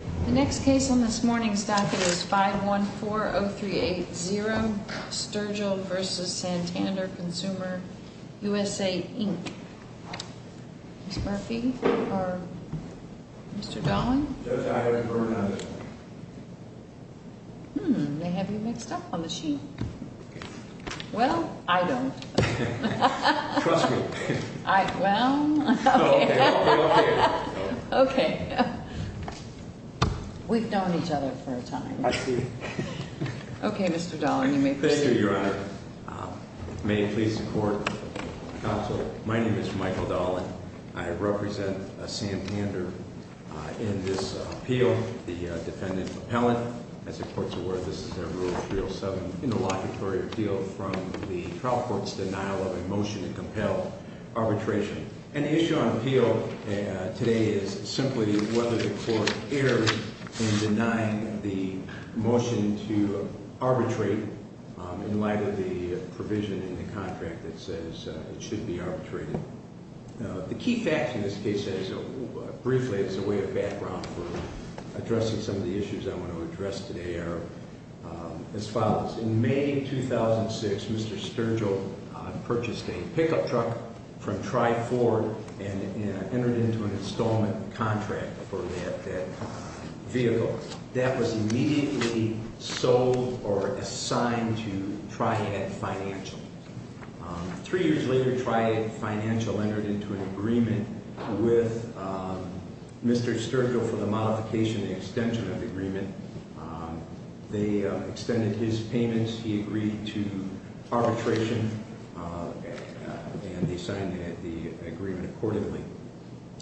The next case on this morning's docket is 5140380, Sturgill, etc. v. Santander Consumer USA, Inc. Ms. Murphy or Mr. Dahlin? I have a burn on this one. Hmm, they have you mixed up on the sheet. Well, I don't. Trust me. Well, okay. I'll be up here. Okay. We've known each other for a time. I see. Okay, Mr. Dahlin, you may proceed. Thank you, Your Honor. May it please the Court, Counsel, my name is Michael Dahlin. I represent Santander in this appeal. The defendant's appellant. As the Court's aware, this is Rule 307 in the locutory appeal from the trial court's denial of a motion to compel arbitration. An issue on appeal today is simply whether the Court erred in denying the motion to arbitrate in light of the provision in the contract that says it should be arbitrated. The key facts in this case, briefly, as a way of background for addressing some of the issues I want to address today are as follows. In May 2006, Mr. Sturgill purchased a pickup truck from Tri Ford and entered into an installment contract for that vehicle. That was immediately sold or assigned to Triad Financial. Three years later, Triad Financial entered into an agreement with Mr. Sturgill for the modification and extension of the agreement. They extended his payments. He agreed to arbitration and they signed the agreement accordingly.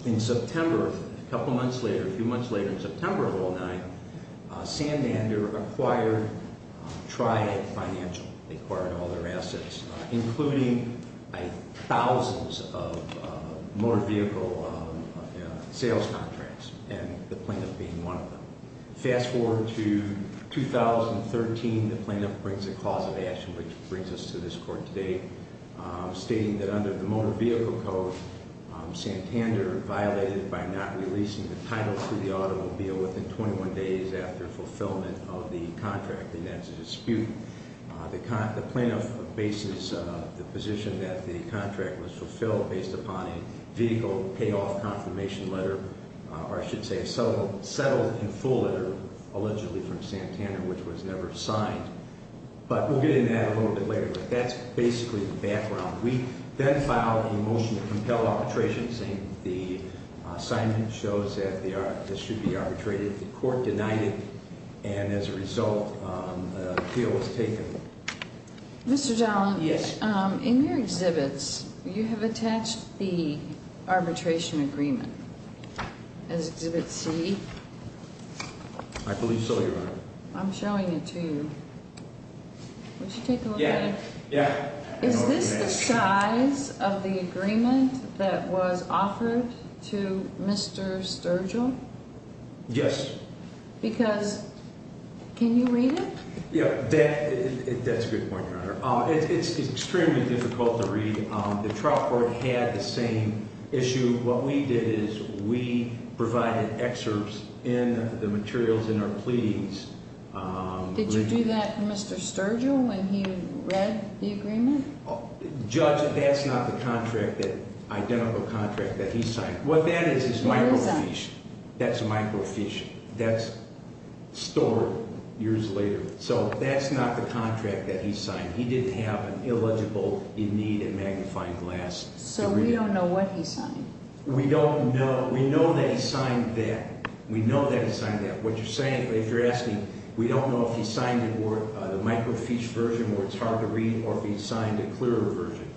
In September, a couple months later, a few months later, in September of 2009, Sandander acquired Triad Financial. They acquired all their assets, including thousands of motor vehicle sales contracts, and the plaintiff being one of them. Fast forward to 2013, the plaintiff brings a cause of action which brings us to this court today, stating that under the Motor Vehicle Code, Sandander violated by not releasing the title to the automobile within 21 days after fulfillment of the contract. And that's a dispute. The plaintiff bases the position that the contract was fulfilled based upon a vehicle payoff confirmation letter or I should say settled in full letter, allegedly from Sandander, which was never signed. But we'll get into that a little bit later, but that's basically the background. We then filed a motion to compel arbitration, saying the assignment shows that this should be arbitrated. The court denied it and as a result, an appeal was taken. Mr. Dollin, in your exhibits, you have attached the arbitration agreement. As Exhibit C. I believe so, Your Honor. I'm showing it to you. Would you take a look at it? Yeah. Is this the size of the agreement that was offered to Mr. Sturgill? Yes. Because can you read it? Yeah, that's a good point, Your Honor. It's extremely difficult to read. The trial court had the same issue. What we did is we provided excerpts in the materials in our pleadings. Did you do that for Mr. Sturgill when he read the agreement? Judge, that's not the identical contract that he signed. What that is is microfiche. That's a microfiche. That's stored years later. So that's not the contract that he signed. He didn't have an eligible in need of magnifying glass. So we don't know what he signed? We don't know. We know that he signed that. We know that he signed that. What you're saying, if you're asking, we don't know if he signed the microfiche version where it's hard to read or if he signed a clearer version.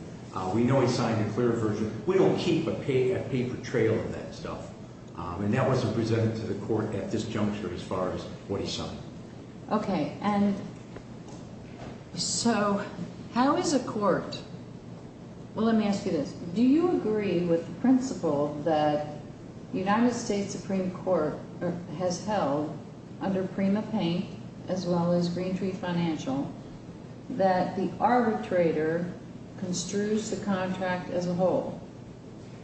We know he signed a clearer version. We don't keep a paper trail of that stuff. And that wasn't presented to the court at this juncture as far as what he signed. Okay. And so how is a court well, let me ask you this. Do you agree with the principle that the United States Supreme Court has held under Prima Pink as well as Green Tree Financial that the arbitrator construes the contract as a whole?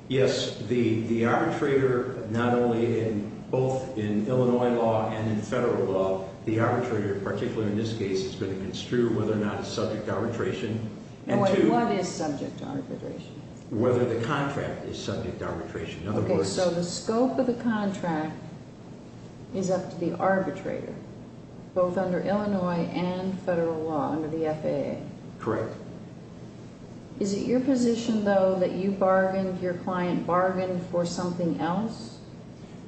Yes. The arbitrator not only in both in Illinois law and in federal law, the arbitrator particularly in this case is going to construe And what is subject to arbitration? Whether the contract is subject to arbitration. Okay. So the scope of the contract is up to the arbitrator both under Illinois and federal law under the FAA. Correct. Is it your position though that you bargained your client bargained for something else?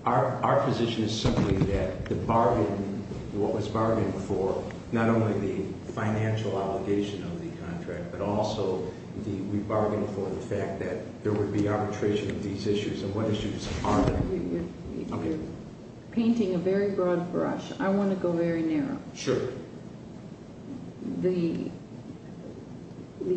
Our position is simply that the bargain what was bargained for not only the financial obligation of the contract but also we bargained for the fact that there would be arbitration of these issues and what issues are they? You're painting a very broad brush. I want to go very narrow. Sure. The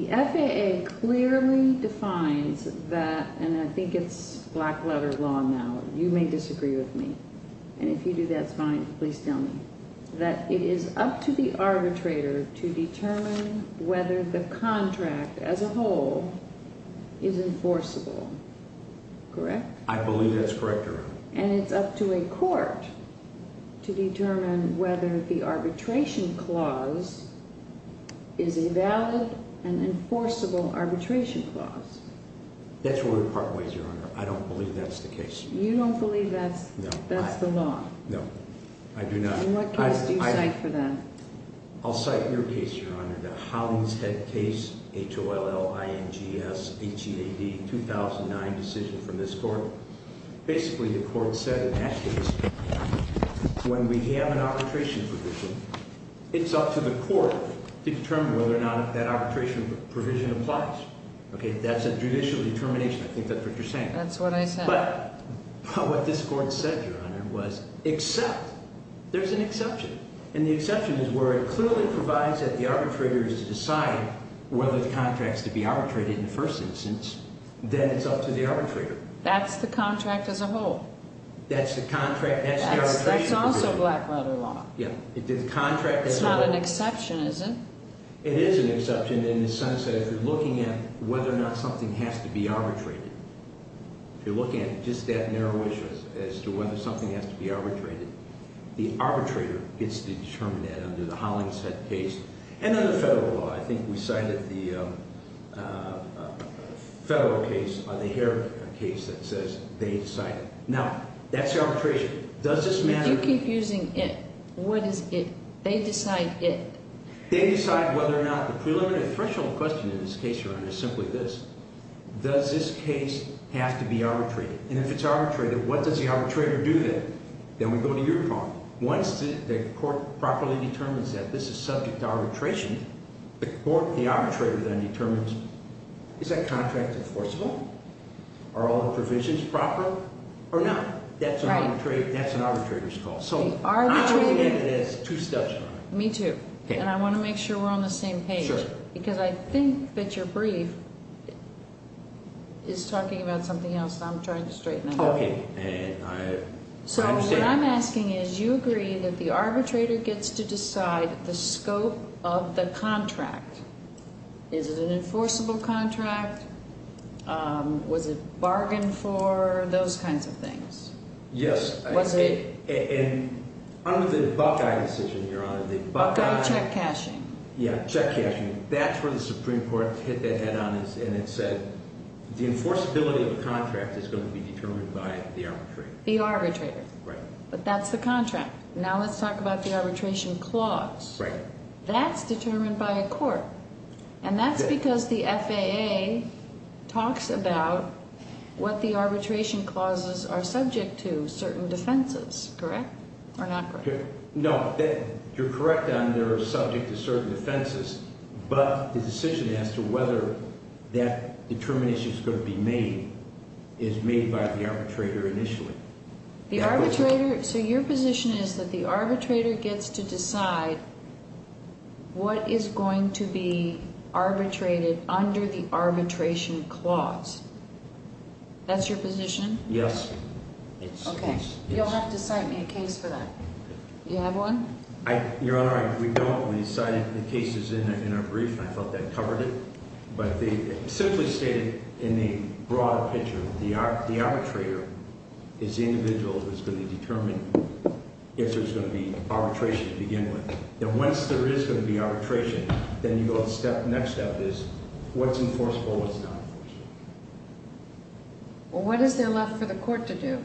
FAA clearly defines that and I think it's black letter law now you may disagree with me and if you do that's fine, please tell me that it is up to the arbitrator to determine whether the contract as a whole is enforceable. Correct? I believe that's correct, Your Honor. And it's up to a court to determine whether the arbitration clause is a valid and enforceable arbitration clause. That's really part ways, Your Honor. I don't believe that's the case. You don't believe that's the law? No. I do not. What case do you cite for that? I'll cite your case, Your Honor. The Hollingshead case, H-O-L-L-I-N-G-S-H-E-A-D 2009 decision from this court. Basically the court said in that case when we have an arbitration provision it's up to the court to determine whether or not that arbitration provision applies. That's a judicial determination. I think that's what you're saying. That's what I said. What this court said, Your Honor, was except, there's an exception and the exception is where it clearly provides that the arbitrators decide whether the contract's to be arbitrated in the first instance, then it's up to the arbitrator. That's the contract as a whole. That's the contract as the arbitration provision. That's also black letter law. It's not an exception, is it? It is an exception in the sense that if you're looking at whether or not something has to be arbitrated, if you're looking at just that narrow issue as to whether something has to be arbitrated, the arbitrator gets to determine that under the Hollingshead case and then the federal law. I think we cited the federal case, the Hare case that says they decide. Now, that's the arbitration. Does this matter? If you keep using it, what is it? They decide it. They decide whether or not the preliminary threshold question in this case, Your Honor, is simply this. Does this case have to be arbitrated? And if it's arbitrated, what does the arbitrator do then? Then we go to your call. Once the court properly determines that this is subject to arbitration, the arbitrator then determines is that contract enforceable? Are all the provisions proper or not? That's an arbitrator's call. So I look at it as two steps, Your Honor. Me too. And I want to make sure we're on the same page. Sure. Because I think that your brief is talking about something else that I'm trying to straighten out. So what I'm asking is you agree that the arbitrator gets to decide the scope of the contract. Is it an enforceable contract? Was it bargained for? Those kinds of things. Yes. Was it? Under the Buckeye decision, Your Honor, the Buckeye... Buckeye check cashing. Yeah, check cashing. That's where the Supreme Court hit that head on and it said the enforceability of a contract is going to be determined by the arbitrator. The arbitrator. Right. But that's the contract. Now let's talk about the arbitration clause. Right. That's determined by a court. And that's because the FAA talks about what the arbitration clauses are subject to, certain defenses. Correct? Or not correct? No, you're correct on they're subject to certain defenses, but the decision as to whether that determination is going to be made is made by the arbitrator initially. The arbitrator, so your position is that the arbitrator gets to decide what is going to be arbitrated under the arbitration clause. That's your position? Yes. Okay. You'll have to cite me a case for that. You have one? Your Honor, we cited the cases in our brief and I thought that covered it, but simply stated in the broader picture, the arbitrator is the individual who's going to determine if there's going to be arbitration to begin with. Then once there is going to be arbitration, then you go to the next step is what's enforceable, what's not. Well, what is there left for the court to do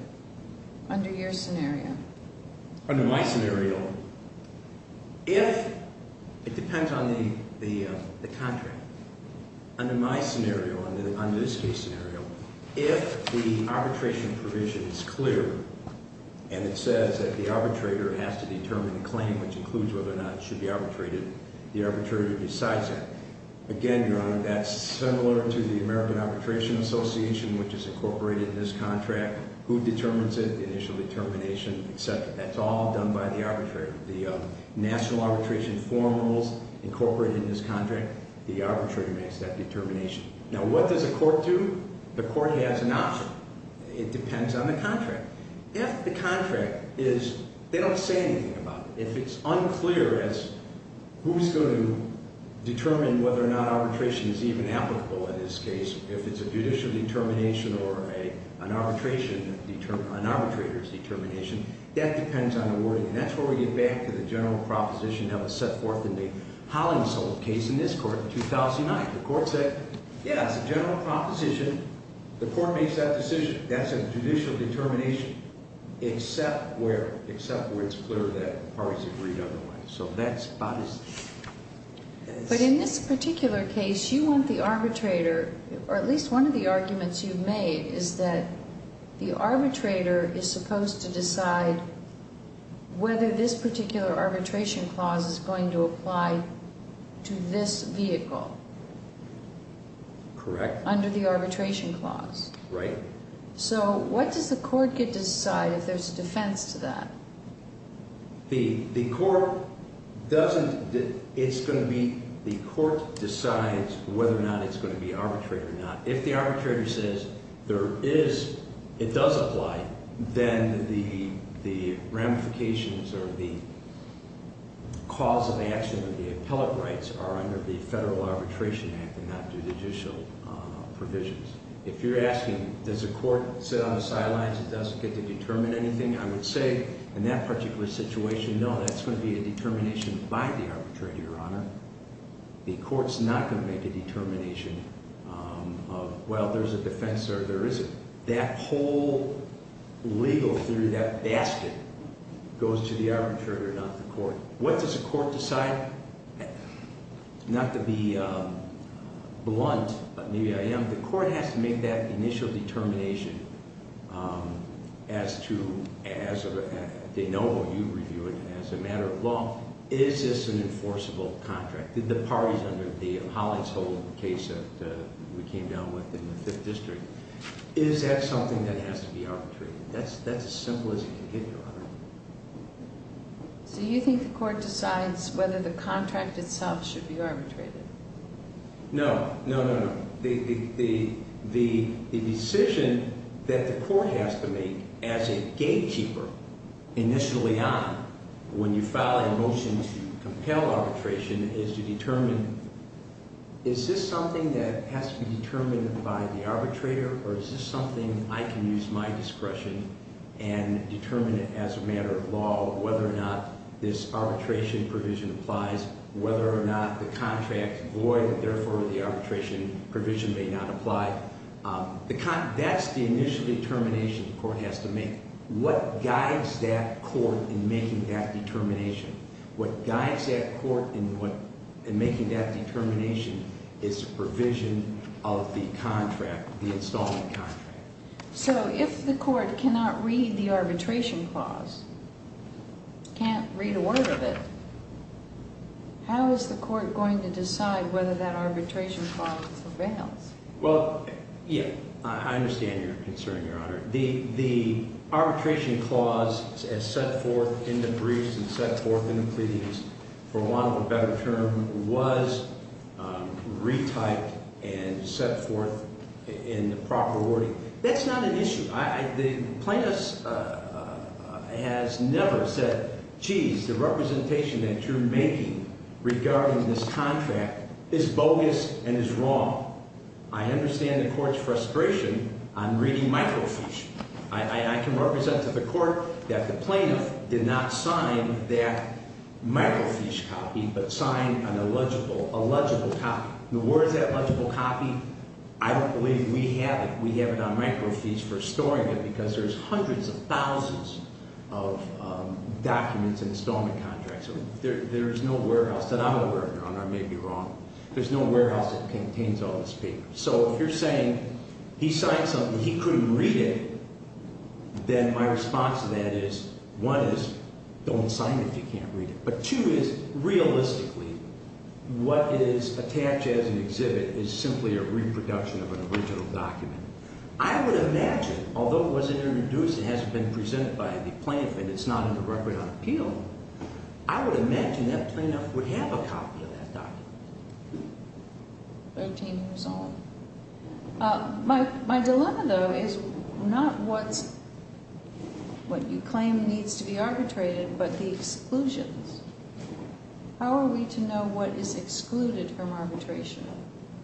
under your scenario? Under my scenario, if it depends on the contract, under my scenario, under this case scenario, if the arbitration provision is clear and it says that the arbitrator has to determine the claim, which includes whether or not it should be arbitrated, the arbitrator decides that. Again, Your Honor, that's similar to the American Arbitration Association, which is incorporated in this contract. Who determines it? The initial determination, etc. That's all done by the arbitrator. The National Arbitration Forum rules incorporate in this contract. The arbitrator makes that determination. Now, what does the court do? The court has an option. It depends on the contract. If the contract is, they don't say anything about it. If it's unclear as who's going to determine whether or not arbitration is even applicable in this case, if it's a judicial determination or an arbitration determination, an arbitrator's determination, that depends on the wording. And that's where we get back to the general proposition that was set forth in the Hollingsworth case in this court in 2009. The court said, yeah, it's a general proposition. The court makes that decision. That's a judicial determination except where it's clear that the parties agree otherwise. So that's about it. But in this particular case, you want the arbitrator, or at least one of the arguments you've made, is that the arbitrator is supposed to decide whether this particular arbitration clause is going to apply to this vehicle. Correct. Under the arbitration clause. Right. So what does the court get to decide if there's defense to that? The court doesn't, it's going to be, the court decides whether or not it's going to be arbitrary or not. If the arbitrator says there is, it does apply, then the ramifications or the cause of action of the appellate rights are under the Federal Arbitration Act and not the judicial provisions. If you're asking, does the court sit on the sidelines and doesn't get to determine anything, I would say in that particular situation, no, that's going to be a determination by the arbitrator, Your Honor. The court's not going to make a determination of, well, there's a defense or there isn't. That whole legal theory, that goes to the arbitrator, not the court. What does the court decide? Not to be blunt, but maybe I am, the court has to make that initial determination as to, they know, you review it, as a matter of law, is this an enforceable contract? Did the parties under the Hollings Hole case that we came down with in the Fifth District, is that something that has to be arbitrated? That's as simple as you can get, Your Honor. So you think the court decides whether the contract itself should be arbitrated? No, no, no, no. The decision that the court has to make as a gatekeeper initially on, when you file a motion to compel arbitration, is to determine is this something that has to be determined by the arbitrator or is this something I can use my discretion and determine it as a matter of law, whether or not this arbitration provision applies, whether or not the contract void and therefore the arbitration provision may not apply. That's the initial determination the court has to make. What guides that court in making that determination? What guides that court in making that determination is provision of the contract, the installment contract. So if the court cannot read the arbitration clause, can't read a word of it, how is the court going to decide whether that arbitration clause prevails? Well, yeah, I understand your concern, Your Honor. The arbitration clause as set forth in the briefs and set forth in the pleadings, for want of a better term, was retyped and set forth in the proper wording. That's not an issue. The plaintiff has never said, geez, the representation that you're making regarding this contract is bogus and is wrong. I understand the court's frustration on reading microfiche. I can represent to the court that the plaintiff did not sign that microfiche copy but signed an illegible, a legible copy. The words illegible copy, I don't believe we have it. We have it on microfiche for storing it because there's hundreds of thousands of documents, installment contracts. There is no warehouse. And I'm aware, Your Honor, I may be wrong. There's no warehouse that contains all this paper. So if you're saying he signed something, he couldn't read it, then my response to that is one is don't sign it if you can't read it. But two is realistically, what is attached as an exhibit is simply a reproduction of an original document. I would imagine although it wasn't introduced and hasn't been presented by the plaintiff and it's not in the record on appeal, I would imagine that plaintiff would have a copy of that document. Thirteen years old. My dilemma though is not what's what you claim needs to be arbitrated but the exclusions. How are we to know what is excluded from arbitration?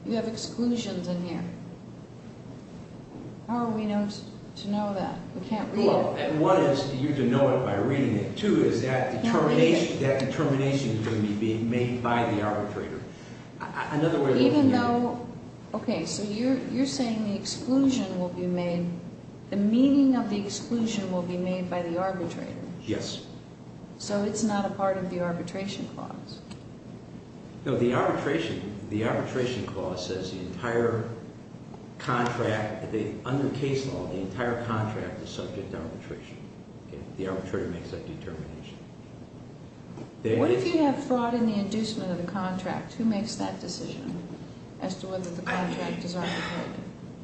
You have exclusions in here. How are we to know that? We can't read it. One is you can know it by reading it. Two is that determination is going to be made by the arbitrator. Even though, okay, so you're saying the exclusion will be made, the meaning of the exclusion will be made by the arbitrator. Yes. So it's not a part of the arbitration clause? No, the arbitration clause says the entire contract under case law, the entire contract is subject to arbitration. The arbitrator makes that determination. What if you have fraud in the inducement of the contract? Who makes that decision as to whether the contract is arbitrated?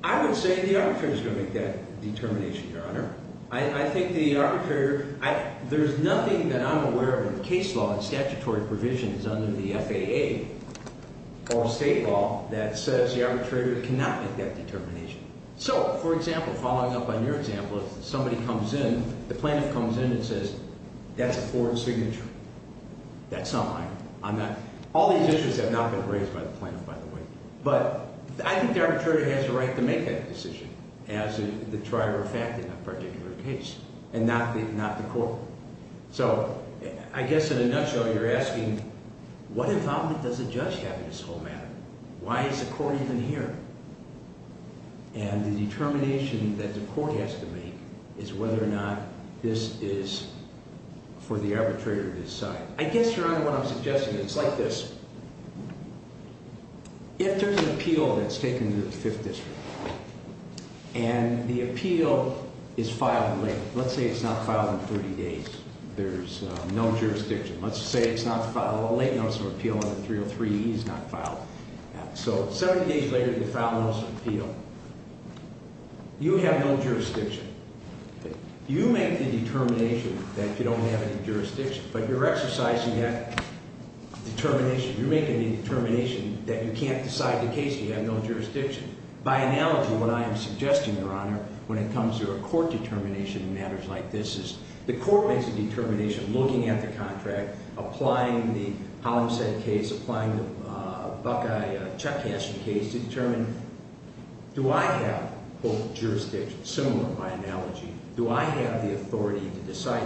I would say the arbitrator is going to make that determination, Your Honor. I think the arbitrator There's nothing that I'm aware of in case law and statutory provisions under the FAA or state law that says the arbitrator cannot make that determination. So, for example, following up on your example, if somebody comes in, the plaintiff comes in and says, that's a foreign signature. That's not mine. I'm not All these issues have not been raised by the plaintiff, by the way. But I think the arbitrator has a right to make that decision as the trier of fact in a particular case and not the court. So, I guess in a nutshell, you're asking what involvement does the judge have in this whole matter? Why is the court even here? And the determination that the court has to make is whether or not this is for the arbitrator to decide. I guess, Your Honor, what I'm suggesting is like this. If there's an appeal that's taken to the jury, and the appeal is filed late. Let's say it's not filed in 30 days. There's no jurisdiction. Let's say it's not filed a late notice of appeal and the 303E is not filed. So, 70 days later, you file a notice of appeal. You have no jurisdiction. You make the determination that you don't have any jurisdiction, but you're exercising that determination. You're making the determination that you can't decide the case if you have no jurisdiction. By analogy, what I am suggesting, Your Honor, when it comes to a court determination in matters like this is the court makes a determination, looking at the contract, applying the Hollingshead case, applying the Buckeye-Chutkass case to determine, do I have, quote, jurisdiction? Similar by analogy. Do I have the authority to decide?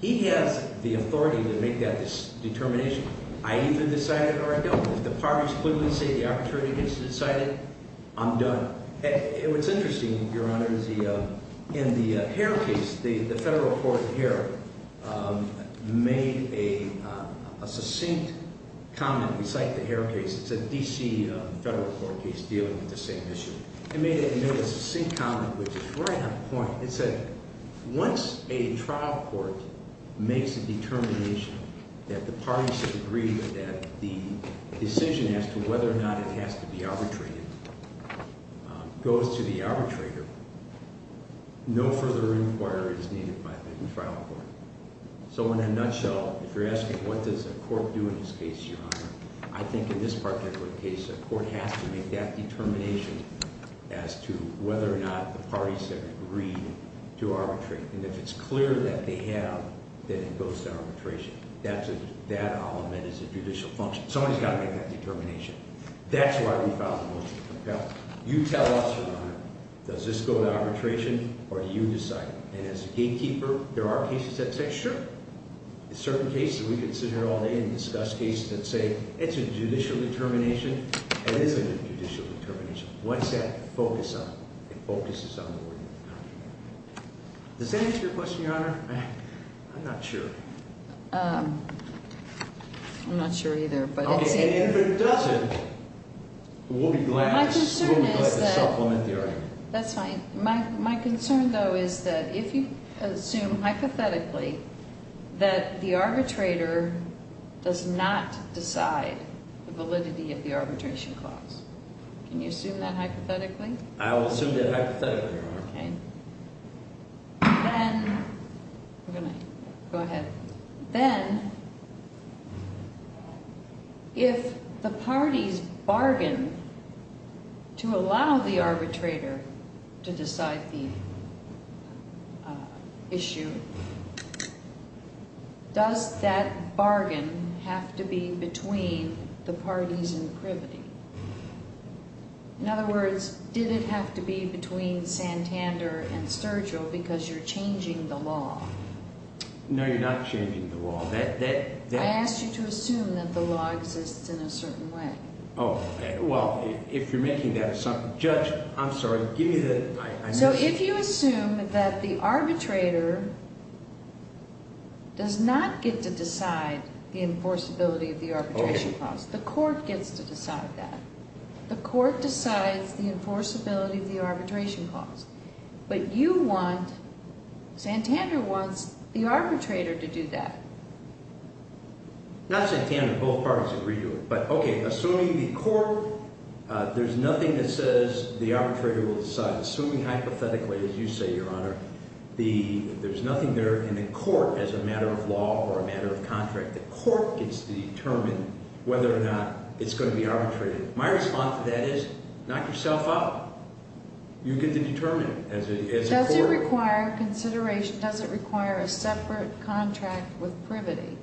He has the authority to make that determination. I either decide it or I don't. If the parties clearly say the opportunity has been decided, I'm done. And what's interesting, Your Honor, is the Hare case, the federal court here made a succinct comment. We cite the Hare case. It's a D.C. federal court case dealing with the same issue. It made a succinct comment, which is right on point. It said, once a trial court makes a determination that the parties should agree that the decision as to whether or not it has to be arbitrated goes to the arbitrator, no further inquiry is needed by the trial court. So in a nutshell, if you're asking what does a court do in this case, Your Honor, I think in this particular case, a court has to make that determination as to whether or not the parties have agreed to arbitrate. And if it's clear that they have, then it goes to arbitration. That element is a judicial function. Somebody's got to make that determination. That's why we filed the motion. Now, you tell us, Your Honor, does this go to arbitration, or do you decide? And as a gatekeeper, there are cases that say, sure. In certain cases, we could sit here all day and discuss cases that say, it's a judicial determination, and it isn't a judicial determination. What's that focus on? It focuses on the court of the defendant. Does that answer your question, Your Honor? I'm not sure. I'm not sure either. If it doesn't, we'll be glad to supplement the argument. That's fine. My concern, though, is that if you assume hypothetically that the arbitrator does not decide the validity of the arbitration clause, can you assume that hypothetically? I will assume that hypothetically, Your Honor. Okay. Then... Go ahead. Then, if the parties bargain to allow the arbitrator to decide the issue, does that bargain have to be between the parties in privity? In other words, did it have to be between Santander and Sturgill because you're changing the law? No, you're not changing the law. I asked you to assume that the law exists in a certain way. Oh, well, if you're making that assumption... Judge, I'm sorry, give me the... So, if you assume that the arbitrator does not get to decide the enforceability of the arbitration clause, the court gets to decide that. The court decides the enforceability of the arbitration clause. But you want... Santander wants the arbitrator to do that. Not Santander. Both parties agree to it. But, okay, assuming the court... There's nothing that says the arbitrator will decide. Assuming hypothetically, as you say, Your Honor, there's nothing there in the court as a matter of law or a matter of contract. The court gets to determine whether or not it's going to be arbitrated. My response to that is, knock yourself up. You get to determine as a court. Does it require consideration? Does it require a separate contract with privity?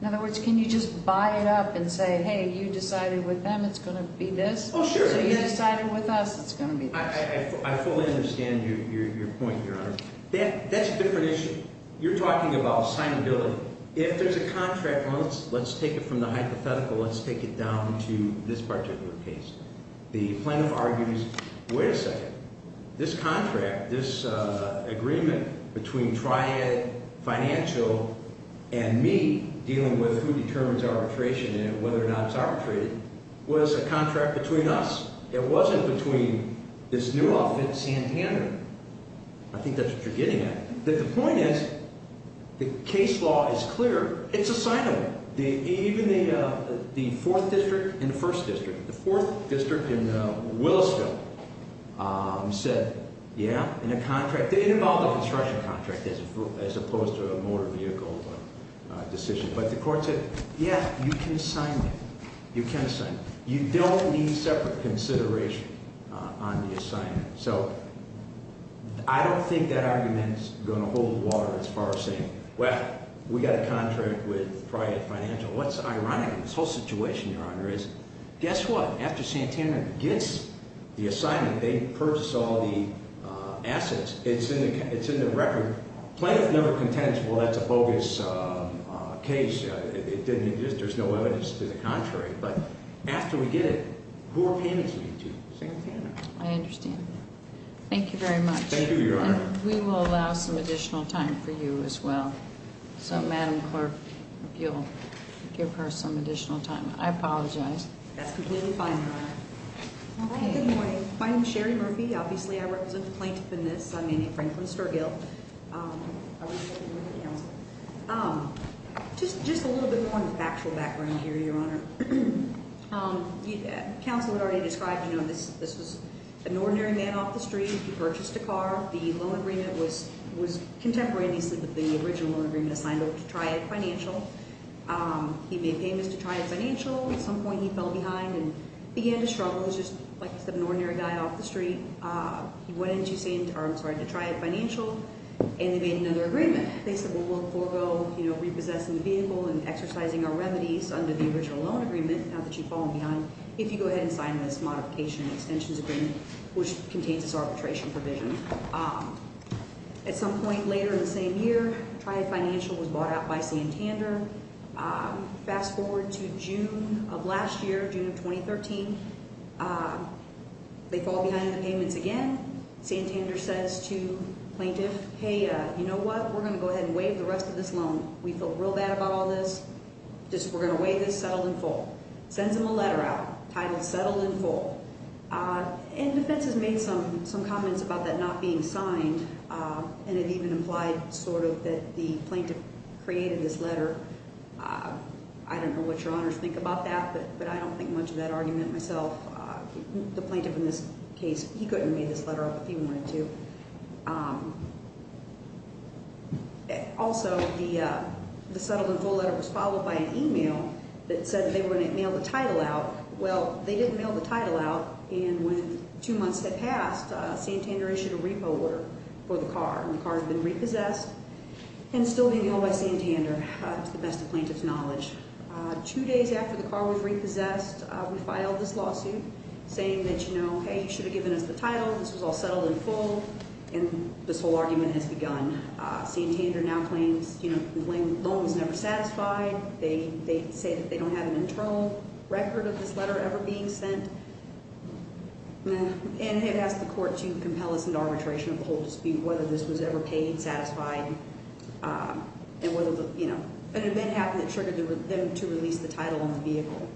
In other words, can you just buy it up and say, hey, you decided with them it's going to be this? Oh, sure. So, you decided with us it's going to be this. I fully understand your point, Your Honor. That's a different issue. You're talking about signability. If there's a hypothetical, let's take it down to this particular case. The plaintiff argues, wait a second. This contract, this agreement between Triad Financial and me, dealing with who determines arbitration and whether or not it's arbitrated, was a contract between us. It wasn't between this new outfit, Santander. I think that's what you're getting at. The point is, the case law is clear. It's assignable. Even the 4th District and 1st District. The 4th District in Willisville said, yeah, it involved a construction contract as opposed to a motor vehicle decision. But the court said, yeah, you can sign it. You can sign it. You don't need separate consideration on the assignment. I don't think that argument is going to hold water as far as well. We got a contract with Triad Financial. What's ironic in this whole situation, Your Honor, is guess what? After Santander gets the assignment, they purchase all the assets. It's in the record. Plaintiff never contends, well, that's a bogus case. There's no evidence to the contrary. But after we get it, who are payments made to? Santander. I understand. Thank you very much. Thank you, Your Honor. And we will allow some additional time for you as well. So, Madam Clerk, if you'll give her some additional time. I apologize. That's completely fine, Your Honor. Good morning. My name is Sherry Murphy. Obviously, I represent the Plaintiff in this. I'm Amy Franklin Sturgill. I work for the New Haven Council. Just a little bit more on the factual background here, Your Honor. Council had already described, you know, this was an ordinary man off the street. He purchased a car. The loan agreement was contemporary, and he said that the original loan agreement assigned him to try it financial. He made payments to try it financial. At some point, he fell behind and began to struggle. He was just like an ordinary guy off the street. He went into, I'm sorry, to try it financial, and they made another agreement. They said, well, we'll forego, you know, repossessing the vehicle and exercising our remedies under the original loan agreement, now that you've fallen behind, if you go ahead and sign this modification and extensions agreement, which contains this arbitration provision. At some point later in the same year, try it financial was bought out by Santander. Fast forward to June of last year, June of 2013. They fall behind in the payments again. Santander says to the Plaintiff, hey, you know what? We're going to go ahead and waive the rest of this loan. We feel real bad about all this. We're going to waive this settled and full. Sends him a letter out titled Settle and Full. Defense has made some comments about that not being signed, and it even implied sort of that the Plaintiff created this letter. I don't know what your honors think about that, but I don't think much of that argument myself. The Plaintiff in this case, he couldn't have made this letter up if he wanted to. Also, the Settle and Full letter was followed by an email that said they were going to mail the title out. Well, they didn't mail the title out, and when two months had passed, Santander issued a repo order for the car, and the car had been repossessed and still being owned by Santander to the best of Plaintiff's knowledge. Two days after the car was repossessed, we filed this lawsuit saying that, hey, you should have given us the title. This was all settled and full, and this whole argument has begun. Santander now claims the loan was never satisfied. They say that they don't have an internal record of this letter ever being sent. It has the court to compel us into arbitration of the whole dispute, whether this was ever paid, satisfied, and whether an event happened that triggered them to release the title on the vehicle.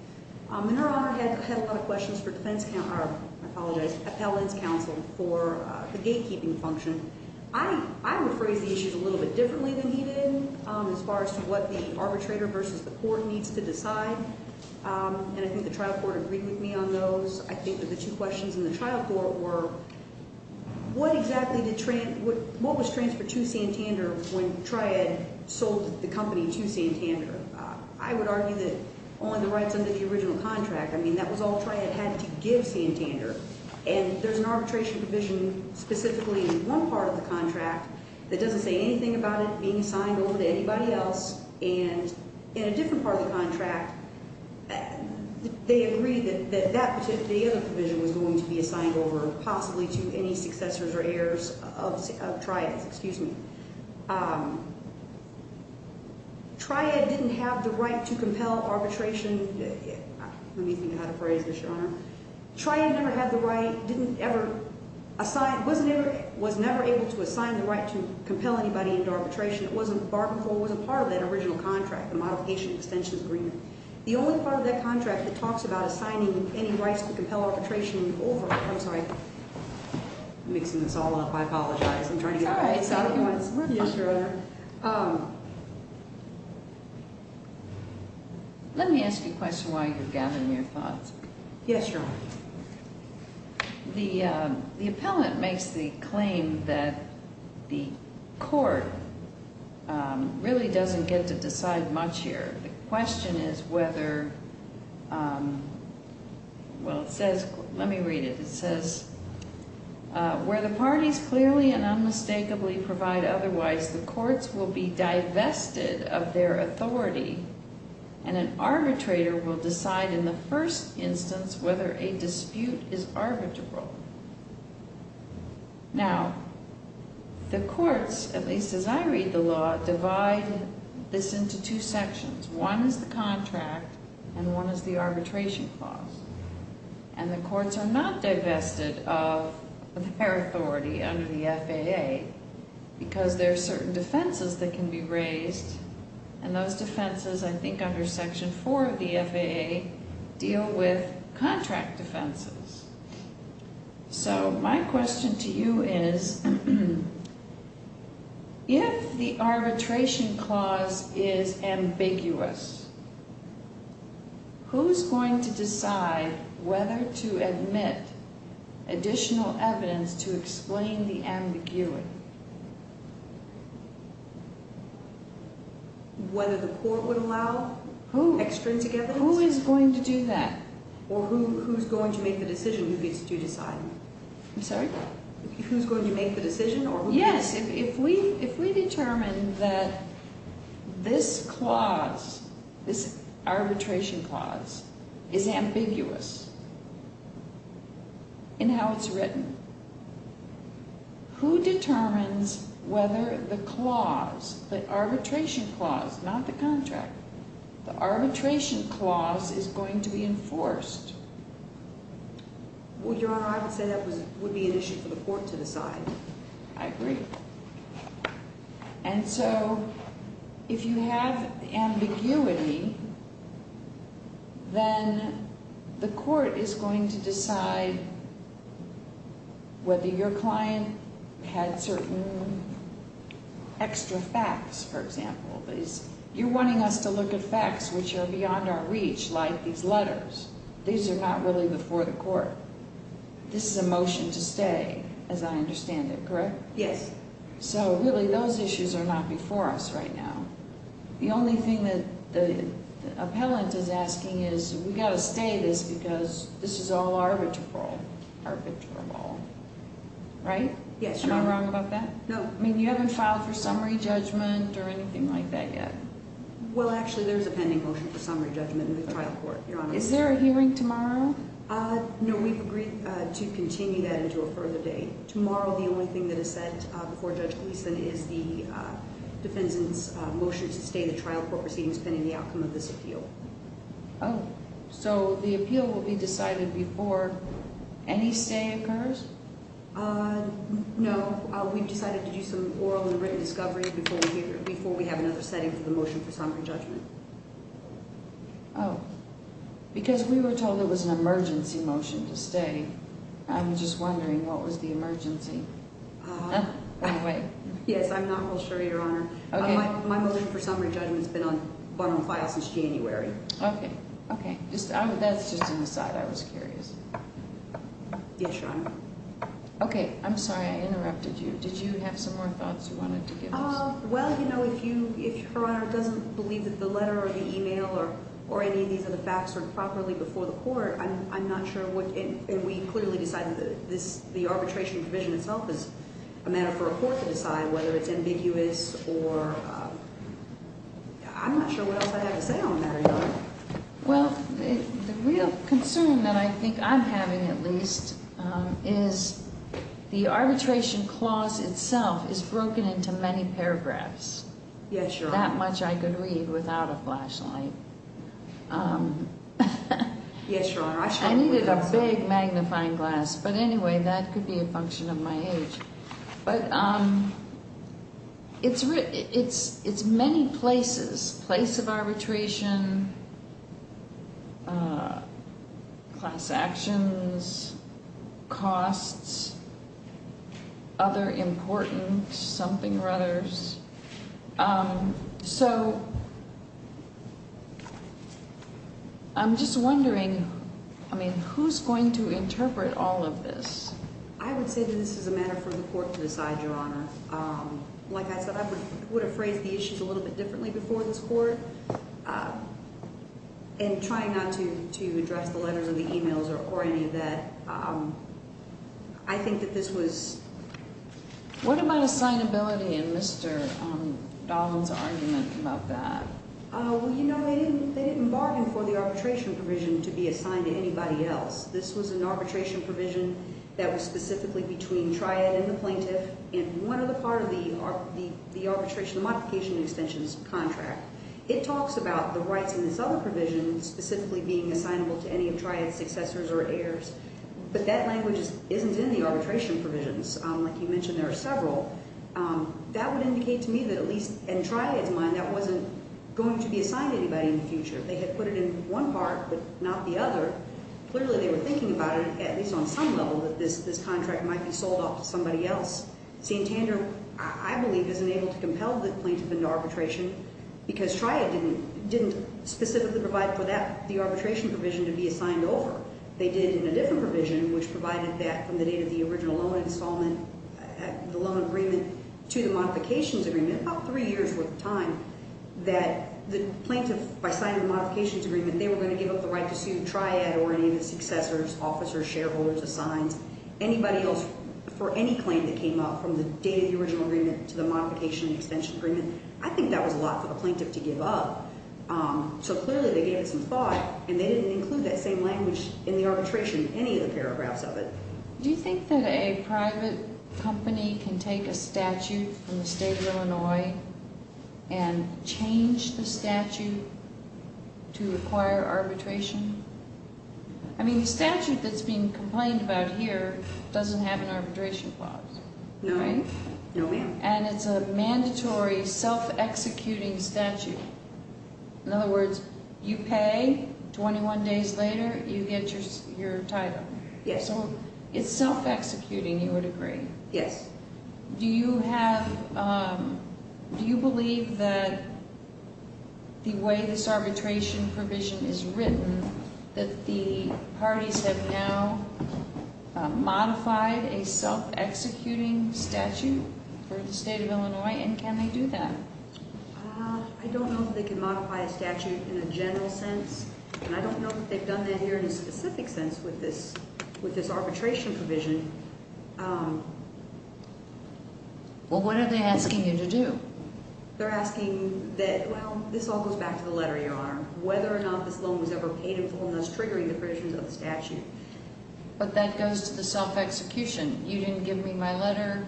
Your Honor, I had a lot of questions for defense counsel, I apologize, appellant's counsel for the gatekeeping function. I would phrase the issues a little bit differently than he did as far as to what the arbitrator versus the court needs to decide, and I think the trial court agreed with me on those. I think that the two questions in the trial court were what exactly did what was transferred to Santander when Triad sold the company to Santander? I would argue that only the rights under the original contract. I mean, that was all Triad had to give Santander, and there's an arbitration provision specifically in one part of the contract that doesn't say anything about it being assigned over to anybody else, and in a different part of the contract, they agreed that that particular provision was going to be assigned over possibly to any successors or heirs of Triad, excuse me. Triad didn't have the right to compel arbitration. Let me think how to phrase this, Your Honor. Triad never had the right, didn't ever assign, was never able to assign the right to compel anybody into arbitration. It wasn't part of that original contract, the modification extensions agreement. The only part of that contract that talks about assigning any rights to compel arbitration over, I'm sorry, I'm mixing this all up. I apologize. I'm trying to get it right. Yes, Your Honor. Let me ask you a question while you're gathering your thoughts. Yes, Your Honor. The appellant makes the claim that the court really doesn't get to decide much here. The question is whether well, it says, let me read it. It says, where the parties clearly and unmistakably provide otherwise, the courts will be divested of their authority, and an arbitrator will decide in the first instance whether a dispute is arbitrable. Now, the courts, at least as I read the law, divide this into two sections. One is the contract, and one is the arbitration clause. And the courts are not divested of their authority under the FAA because there are certain defenses that can be raised, and those defenses, I think, under the FAA deal with contract defenses. So my question to you is if the arbitration clause is ambiguous, who's going to decide whether to admit additional evidence to explain the ambiguity? Whether the court would allow extrinsic evidence? Who is going to do that? Or who's going to make the decision? I'm sorry? Who's going to make the decision? Yes, if we determine that this clause, this arbitration clause, is ambiguous in how it's written, who determines whether the clause, the arbitration clause, not the contract, the arbitration clause, is going to be enforced? Well, Your Honor, I would say that would be an issue for the court to decide. I agree. And so if you have ambiguity, then the court is going to decide whether your client had certain extra facts, for example. You're wanting us to look at facts which are beyond our reach, like these letters. These are not really before the court. This is a motion to stay as I understand it, correct? Yes. So really, those issues are not before us right now. The only thing that the appellant is asking is we've got to stay this because this is all arbitral. Right? Am I wrong about that? You haven't filed for summary judgment or anything like that yet. Well, actually, there's a pending motion for summary judgment in the trial court, Your Honor. Is there a hearing tomorrow? No, we've agreed to continue that into a further date. Tomorrow, the only thing that is set before Judge Gleeson is the defendant's motion to stay the trial court proceedings pending the outcome of this appeal. So the appeal will be decided before any stay occurs? No. We've decided to do some oral and written discovery before we have another setting for the motion for summary judgment. Oh. Because we were told it was an emergency motion to stay. I'm just wondering what was the emergency? Yes, I'm not real sure, Your Honor. My motion for summary judgment has been on file since January. Okay. That's just an aside. I was curious. Yes, Your Honor. Okay. I'm sorry I interrupted you. Did you have some more thoughts you wanted to give us? Well, you know, if Your Honor doesn't believe that the letter or the email or any of these are the facts heard properly before the court, I'm not sure what, and we clearly decided the arbitration provision itself is a matter for a court to decide whether it's ambiguous or I'm not sure what else I have to say on the matter, Your Honor. Well, the real concern that I think I'm having at least is the arbitration clause itself is broken into many paragraphs. Yes, Your Honor. That much I could read without a flashlight. Yes, Your Honor. I needed a big magnifying glass. But anyway, that could be a function of my age. But it's many places, place of arbitration, class actions, costs, other important something or others. So I'm just wondering, I mean, who's going to interpret all of this? I would say that this is a matter for the court to decide, Your Honor. Like I said, I would have phrased the issues a little bit differently before this court and I'm trying not to address the letters or the e-mails or any of that. I think that this was... What about assignability in Mr. Dollin's argument about that? Well, you know, they didn't bargain for the arbitration provision to be assigned to anybody else. This was an arbitration provision that was specifically between Triad and the plaintiff and one other part of the arbitration, the modification extensions contract. It talks about the rights in this other provision specifically being assignable to any of Triad's successors or heirs but that language isn't in the arbitration provisions. Like you mentioned there are several. That would indicate to me that at least in Triad's mind that wasn't going to be assigned to anybody in the future. They had put it in one part but not the other. Clearly they were thinking about it, at least on some level, that this contract might be sold off to somebody else. St. Tandem I believe isn't able to compel the arbitration because Triad didn't specifically provide for the arbitration provision to be assigned over. They did in a different provision which provided that from the date of the original loan installment, the loan agreement, to the modifications agreement about three years worth of time that the plaintiff, by signing the modifications agreement, they were going to give up the right to sue Triad or any of its successors, officers, shareholders, assigns, anybody else for any claim that came up from the date of the original agreement to the modification extension agreement. I think that was a lot for the plaintiff to give up. So clearly they gave it some thought and they didn't include that same language in the arbitration in any of the paragraphs of it. Do you think that a private company can take a statute from the state of Illinois and change the statute to require arbitration? I mean the statute that's being complained about here doesn't have an arbitration clause. No ma'am. And it's a mandatory self-executing statute. In other words, you pay 21 days later, you get your title. So it's self-executing, you would agree. Yes. Do you have, do you believe that the way this arbitration provision is written that the parties have now a self-executing statute for the state of Illinois and can they do that? I don't know if they can modify a statute in a general sense and I don't know if they've done that here in a specific sense with this arbitration provision. Well, what are they asking you to do? They're asking that, well, this all goes back to the letter, Your Honor, whether or not this loan was ever paid in full and that's triggering the provisions of the statute. But that goes to the self-execution. You didn't give me my letter,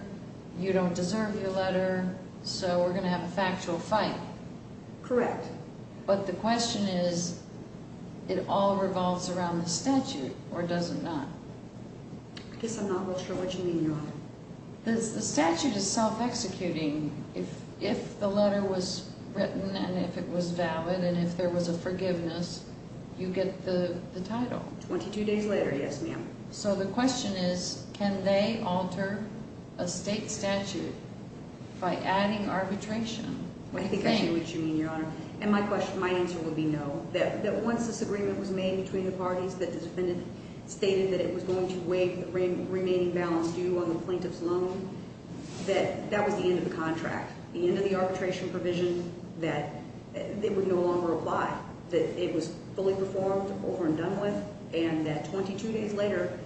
you don't deserve your letter, so we're going to have a factual fight. Correct. But the question is, it all revolves around the statute or does it not? I guess I'm not real sure what you mean, Your Honor. The statute is self-executing. If the letter was written and if it was valid and if there was a forgiveness, you get the letter, yes, ma'am. So the question is, can they alter a state statute by adding arbitration? I think I see what you mean, Your Honor. And my answer would be no. Once this agreement was made between the parties that the defendant stated that it was going to waive the remaining balance due on the plaintiff's loan, that was the end of the contract. The end of the arbitration provision that they would no longer apply. That it was fully performed over and done with, and that 22 days later,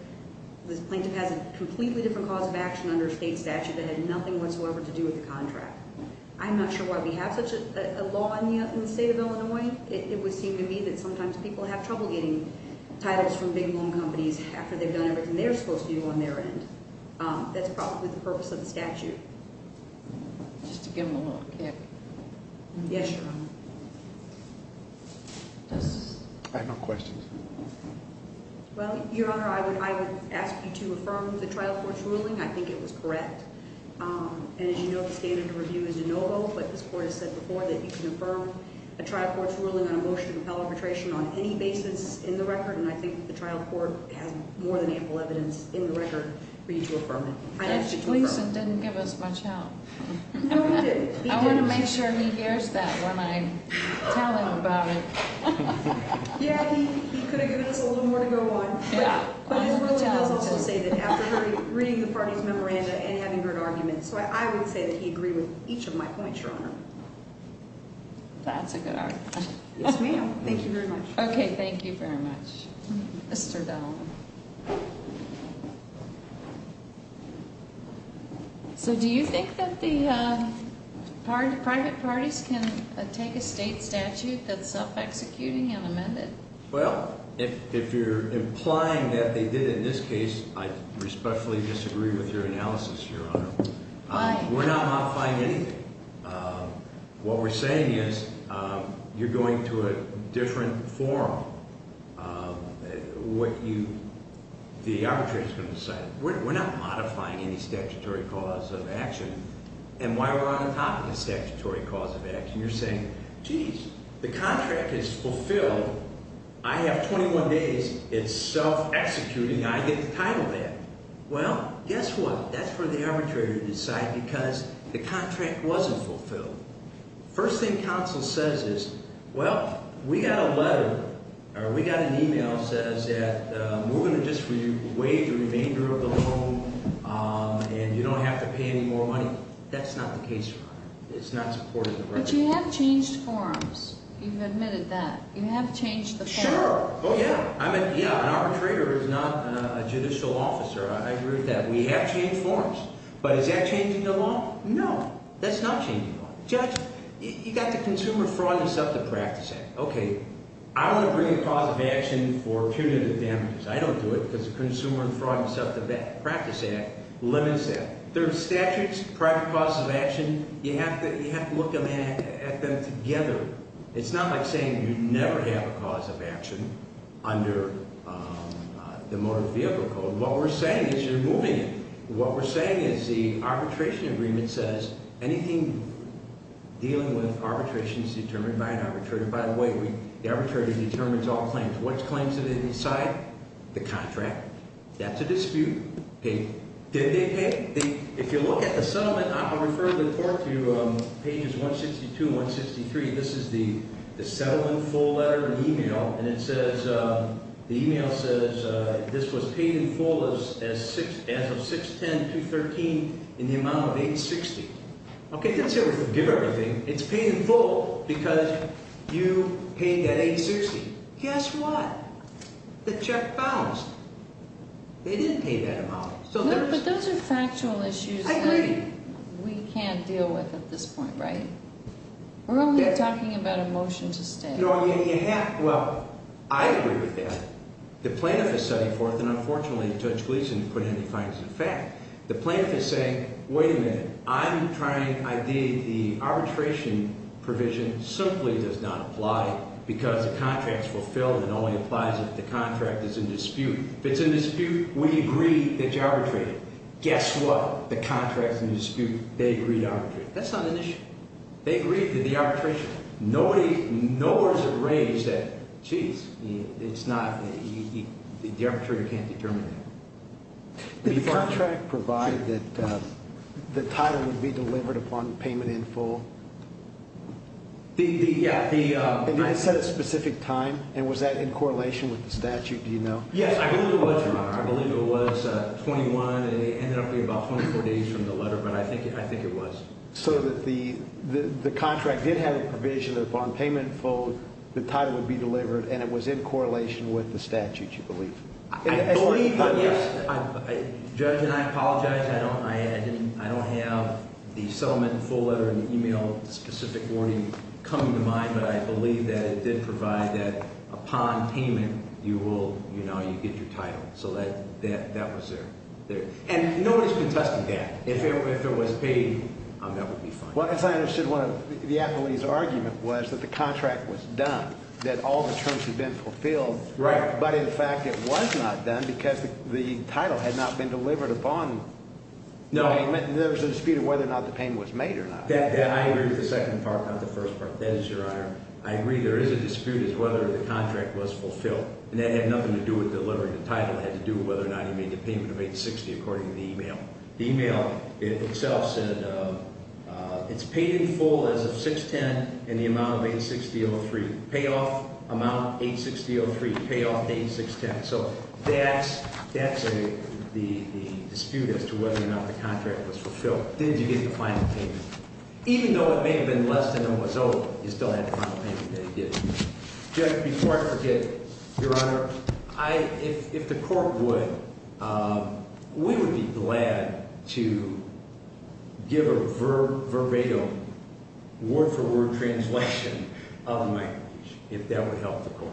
this plaintiff has a completely different cause of action under a state statute that had nothing whatsoever to do with the contract. I'm not sure why we have such a law in the state of Illinois. It would seem to me that sometimes people have trouble getting titles from big loan companies after they've done everything they're supposed to do on their end. Just to give them a little kick. Yes, Your Honor. I have no questions. Well, Your Honor, I would ask you to affirm the trial court's ruling. I think it was correct. And as you know, the standard of review is de novo, but this Court has said before that you can affirm a trial court's ruling on a motion to compel arbitration on any basis in the record, and I think the trial court has more than ample evidence in the record for you to affirm it. I asked you to affirm it. I'm pleased it didn't give us much help. No, it didn't. I want to make sure he hears that when I tell him about it. Yeah, he could have given us a little more to go on. But his ruling does also say that after reading the party's memoranda and having heard arguments, I would say that he agreed with each of my points, Your Honor. That's a good argument. Yes, ma'am. Thank you very much. Okay, thank you very much. Mr. Dowling. So, do you think that the private parties can take a state statute that's self-executing and amended? Well, if you're implying that they did in this case, I respectfully disagree with your analysis, Your Honor. Why? We're not modifying anything. What we're saying is you're going to a different forum. What you are saying is the arbitrator is going to decide we're not modifying any statutory cause of action. And while we're on the topic of statutory cause of action, you're saying, geez, the contract is fulfilled. I have 21 days. It's self-executing. I get the title back. Well, guess what? That's for the arbitrator to decide because the contract wasn't fulfilled. First thing counsel says is, well, we got a letter, or we got an e-mail that says that we're going to just waive the remainder of the loan, and you don't have to pay any more money. That's not the case, Your Honor. It's not supported in the record. But you have changed forums. You've admitted that. You have changed the forum. Sure. Oh, yeah. An arbitrator is not a judicial officer. I agree with that. We have changed forums. But is that changing the law? No. That's not changing the law. Judge, you got the consumer fraud you set up to practice it. Okay. I want to bring a cause of action for punitive damages. I don't do it because the consumer fraud you set up to practice it limits that. There are statutes, private causes of action. You have to look at them together. It's not like saying you never have a cause of action under the motor vehicle code. What we're saying is you're moving it. What we're saying is the arbitration agreement says anything dealing with arbitration is determined by an arbitrator. By the way, the arbitrator determines all claims. Which claims did they decide? The contract. That's a dispute. Did they pay? If you look at the settlement, I'll refer the report to pages 162 and 163. This is the settlement full letter and email and it says, the email says this was paid in full as of 6-10-2013 in the amount of 860. Okay, that's how we give everything. It's paid in full because you paid that 860. Guess what? The check bounced. They didn't pay that amount. But those are factual issues that we can't deal with at this point, right? We're only talking about a motion to stay. Well, I agree with that. The plaintiff is setting forth, and unfortunately Judge Gleeson put it in the fines of the fact. The plaintiff is saying, wait a minute. I'm trying to ideate the arbitration provision simply does not apply because the contract's fulfilled and only applies if the contract is in dispute. If it's in dispute, we agree that you arbitrated. Guess what? The contract's in dispute. They agreed to arbitrate. That's not an issue. They agreed to the arbitration. Nowhere is it raised that geez, it's not the arbitrator can't determine that. Did the contract provide that the title would be delivered upon payment in full? Yeah. Did it set a specific time, and was that in correlation with the statute? Do you know? Yes, I believe it was, Your Honor. I believe it was 21, and it ended up being about 24 days from the letter, but I think it was. So that the contract did have a provision that upon payment in full, the title would be delivered and it was in correlation with the statute, you believe? I believe, yes. Judge, and I apologize, I don't have the settlement in full letter and email specific warning coming to mind, but I believe that it did provide that upon payment, you will you know, you get your title. So that was there. And nobody's contesting that. If it was paid, that would be fine. Well, as I understood one of the appellee's argument was that the contract was done, that all the terms had been fulfilled, but in fact it was not done because the title had not been delivered upon payment, and there was a dispute of whether or not the payment was made or not. I agree with the second part, not the first part. That is, Your Honor. I agree there is a dispute as to whether the contract was fulfilled, and that had nothing to do with delivering the title. It had to do with whether or not he made the payment of 860 according to the email. The email itself said it's paid in full as of 6-10 in the amount of 860-03. Pay off amount 860-03. Pay off 860-10. So that's the dispute as to whether or not the contract was fulfilled. Did you get the final payment? Even though it may have been less than it was owed, you still had the final payment that you did. Before I forget, Your Honor, we would be glad to give a verbatim word-for-word translation of the microphone if that would help the Court.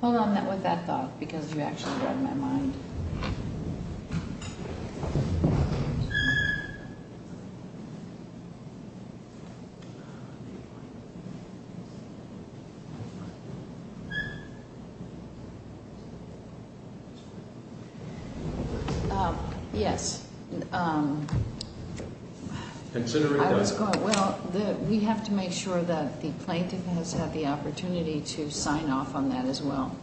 Hold on with that thought, because you actually read my mind. Yes. I was considering... Well, we have to make sure that the plaintiff has had the opportunity to sign off on that as well.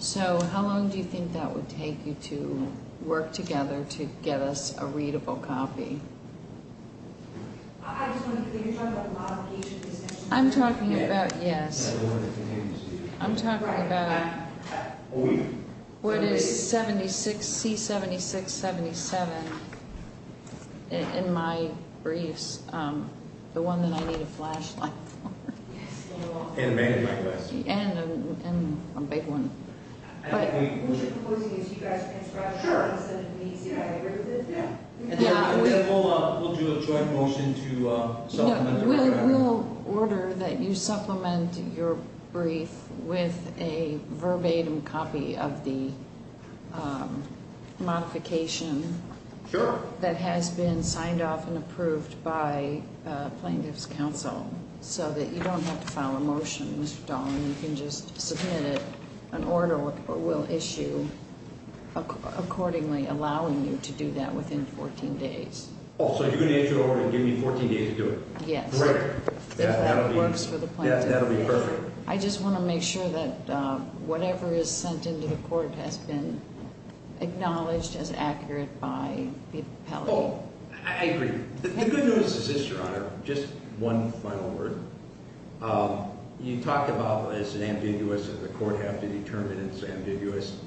So how long do you think that would take you to work together to get us a readable copy? I'm talking about... Yes. I'm talking about... What is 76... in my briefs. The one that I need a flashlight for. And a magnifying glass. And a big one. We'll do a joint motion to supplement... We'll order that you supplement your brief with a verbatim copy of the modification that has been signed off and approved by Plaintiff's Counsel, so that you don't have to file a motion, Mr. Dahlen. You can just submit it. An order will issue accordingly, allowing you to do that within 14 days. Oh, so you're going to issue an order and give me 14 days to do it? Yes. If that works for the plaintiff. That'll be perfect. I just want to make sure that whatever is sent into the hearing is acknowledged as accurate by the appellate. Oh, I agree. The good news is this, Your Honor. Just one final word. You talked about as an ambiguous that the court have to determine it's ambiguous.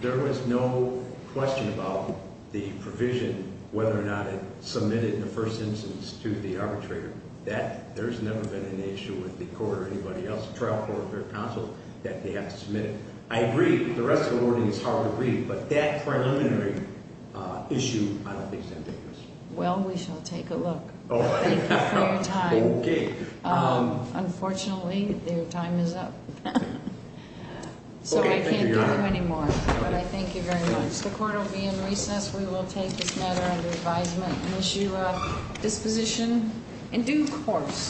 There was no question about the provision whether or not it submitted in the first instance to the arbitrator. That, there's never been an issue with the court or anybody else, trial court or counsel, that they have to submit it. I agree. The rest of the wording is hard to read, but that preliminary issue, I don't think is ambiguous. Well, we shall take a look. Thank you for your time. Unfortunately, your time is up. So I can't give you anymore, but I thank you very much. The court will be in recess. We will take this matter under advisement and issue a disposition in due course.